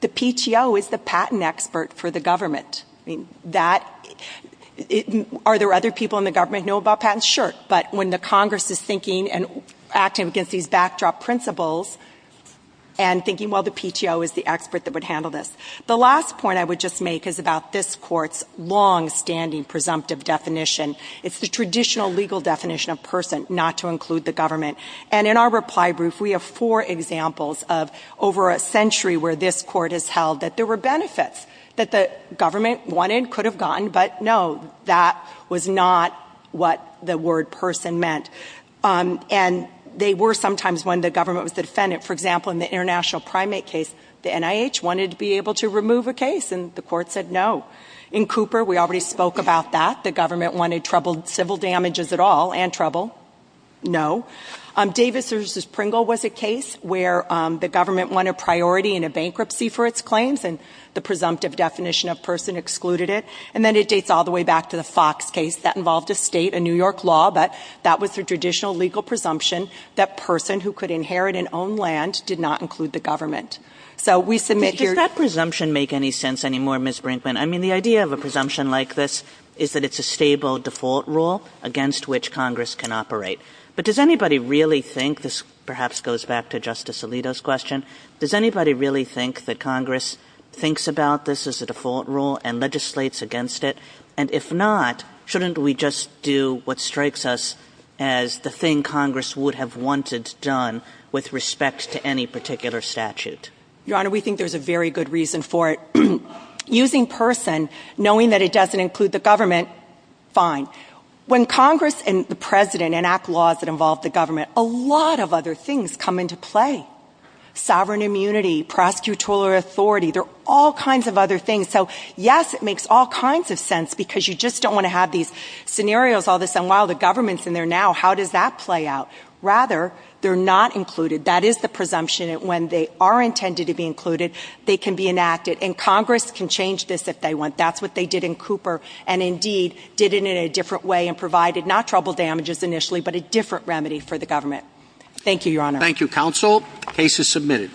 the PTO is the patent expert for the government. I mean, are there other people in the government who know about patents? Sure, but when the Congress is thinking and acting against these backdrop principles and thinking, well, the PTO is the expert that would handle this. The last point I would just make is about this Court's longstanding presumptive definition. It's the traditional legal definition of person, not to include the government. And in our reply brief, we have four examples of over a century where this Court has held that there were benefits that the government wanted, could have gotten, but no, that was not what the word person meant. And they were sometimes when the government was the defendant. For example, in the international primate case, the NIH wanted to be able to remove a case, and the Court said no. In Cooper, we already spoke about that. The government wanted troubled civil damages at all and trouble. No. Davis v. Pringle was a case where the government won a priority in a bankruptcy for its claims, and the presumptive definition of person excluded it. And then it dates all the way back to the Fox case. That involved a state, a New York law, but that was the traditional legal presumption that person who could inherit and own land did not include the government. So we submit here. Does that presumption make any sense anymore, Ms. Brinkman? I mean, the idea of a presumption like this is that it's a stable default rule against which Congress can operate. But does anybody really think, this perhaps goes back to Justice Alito's question, does anybody really think that Congress thinks about this as a default rule and legislates against it? And if not, shouldn't we just do what strikes us as the thing Congress would have wanted done with respect to any particular statute? Your Honor, we think there's a very good reason for it. Using person, knowing that it doesn't include the government, fine. When Congress and the President enact laws that involve the government, a lot of other things come into play. Sovereign immunity, prosecutorial authority, there are all kinds of other things. So, yes, it makes all kinds of sense because you just don't want to have these scenarios all of a sudden. Wow, the government's in there now. How does that play out? Rather, they're not included. That is the presumption that when they are intended to be included, they can be enacted. And Congress can change this if they want. That's what they did in Cooper and, indeed, did it in a different way and provided not trouble damages initially, but a different remedy for the government. Thank you, Your Honor. Thank you, counsel. Case is submitted.